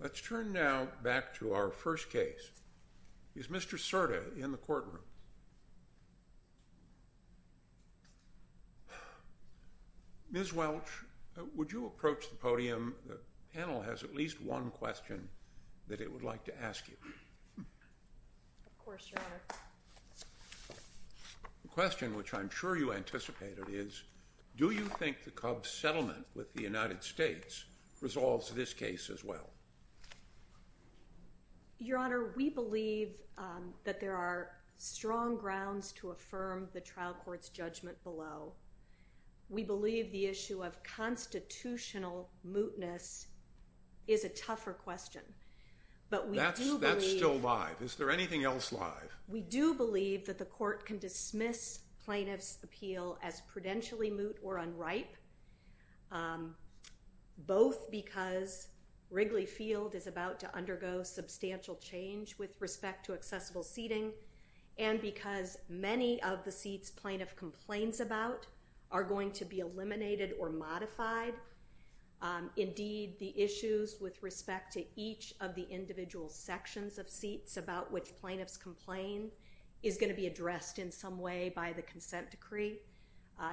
Let's turn now back to our first case. Is Mr. Cerda in the courtroom? Ms. Welch, would you approach the podium? The panel has at least one question that it would like to ask you. Of course, Your Honor. The question, which I'm sure you anticipated, is do you think the Cubs' settlement with the United States resolves this case as well? Your Honor, we believe that there are strong grounds to affirm the trial court's judgment below. We believe the issue of constitutional mootness is a tougher question. That's still live. Is there anything else live? We do believe that the court can dismiss plaintiff's appeal as prudentially moot or unripe, both because Wrigley Field is about to undergo substantial change with respect to accessible seating and because many of the seats plaintiff complains about are going to be eliminated or modified. Indeed, the issues with respect to each of the individual sections of seats about which plaintiffs complain is going to be addressed in some way by the consent decree.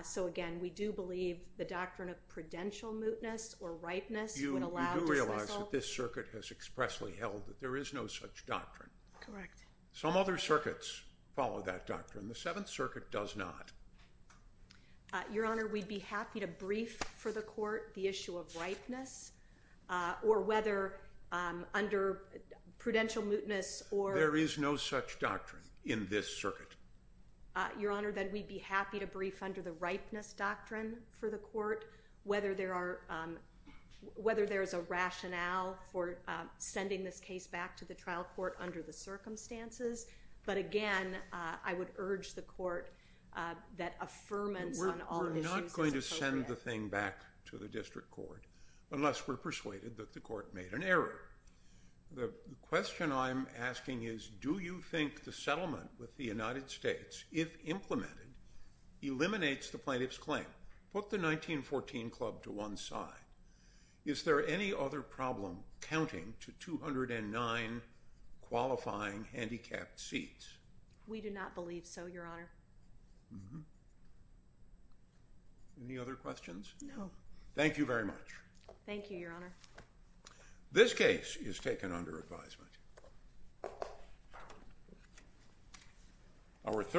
So again, we do believe the doctrine of prudential mootness or ripeness would allow dismissal. You do realize that this circuit has expressly held that there is no such doctrine. Correct. Some other circuits follow that doctrine. The Seventh Circuit does not. Your Honor, we'd be happy to brief for the court the issue of ripeness or whether under prudential mootness or— There is no such doctrine in this circuit. Your Honor, then we'd be happy to brief under the ripeness doctrine for the court, whether there is a rationale for sending this case back to the trial court under the circumstances. But again, I would urge the court that affirmance on all issues is appropriate. We're not going to send the thing back to the district court unless we're persuaded that the court made an error. The question I'm asking is, do you think the settlement with the United States, if implemented, eliminates the plaintiff's claim? Put the 1914 Club to one side. Is there any other problem counting to 209 qualifying handicapped seats? We do not believe so, Your Honor. Any other questions? No. Thank you very much. Thank you, Your Honor. This case is taken under advisement.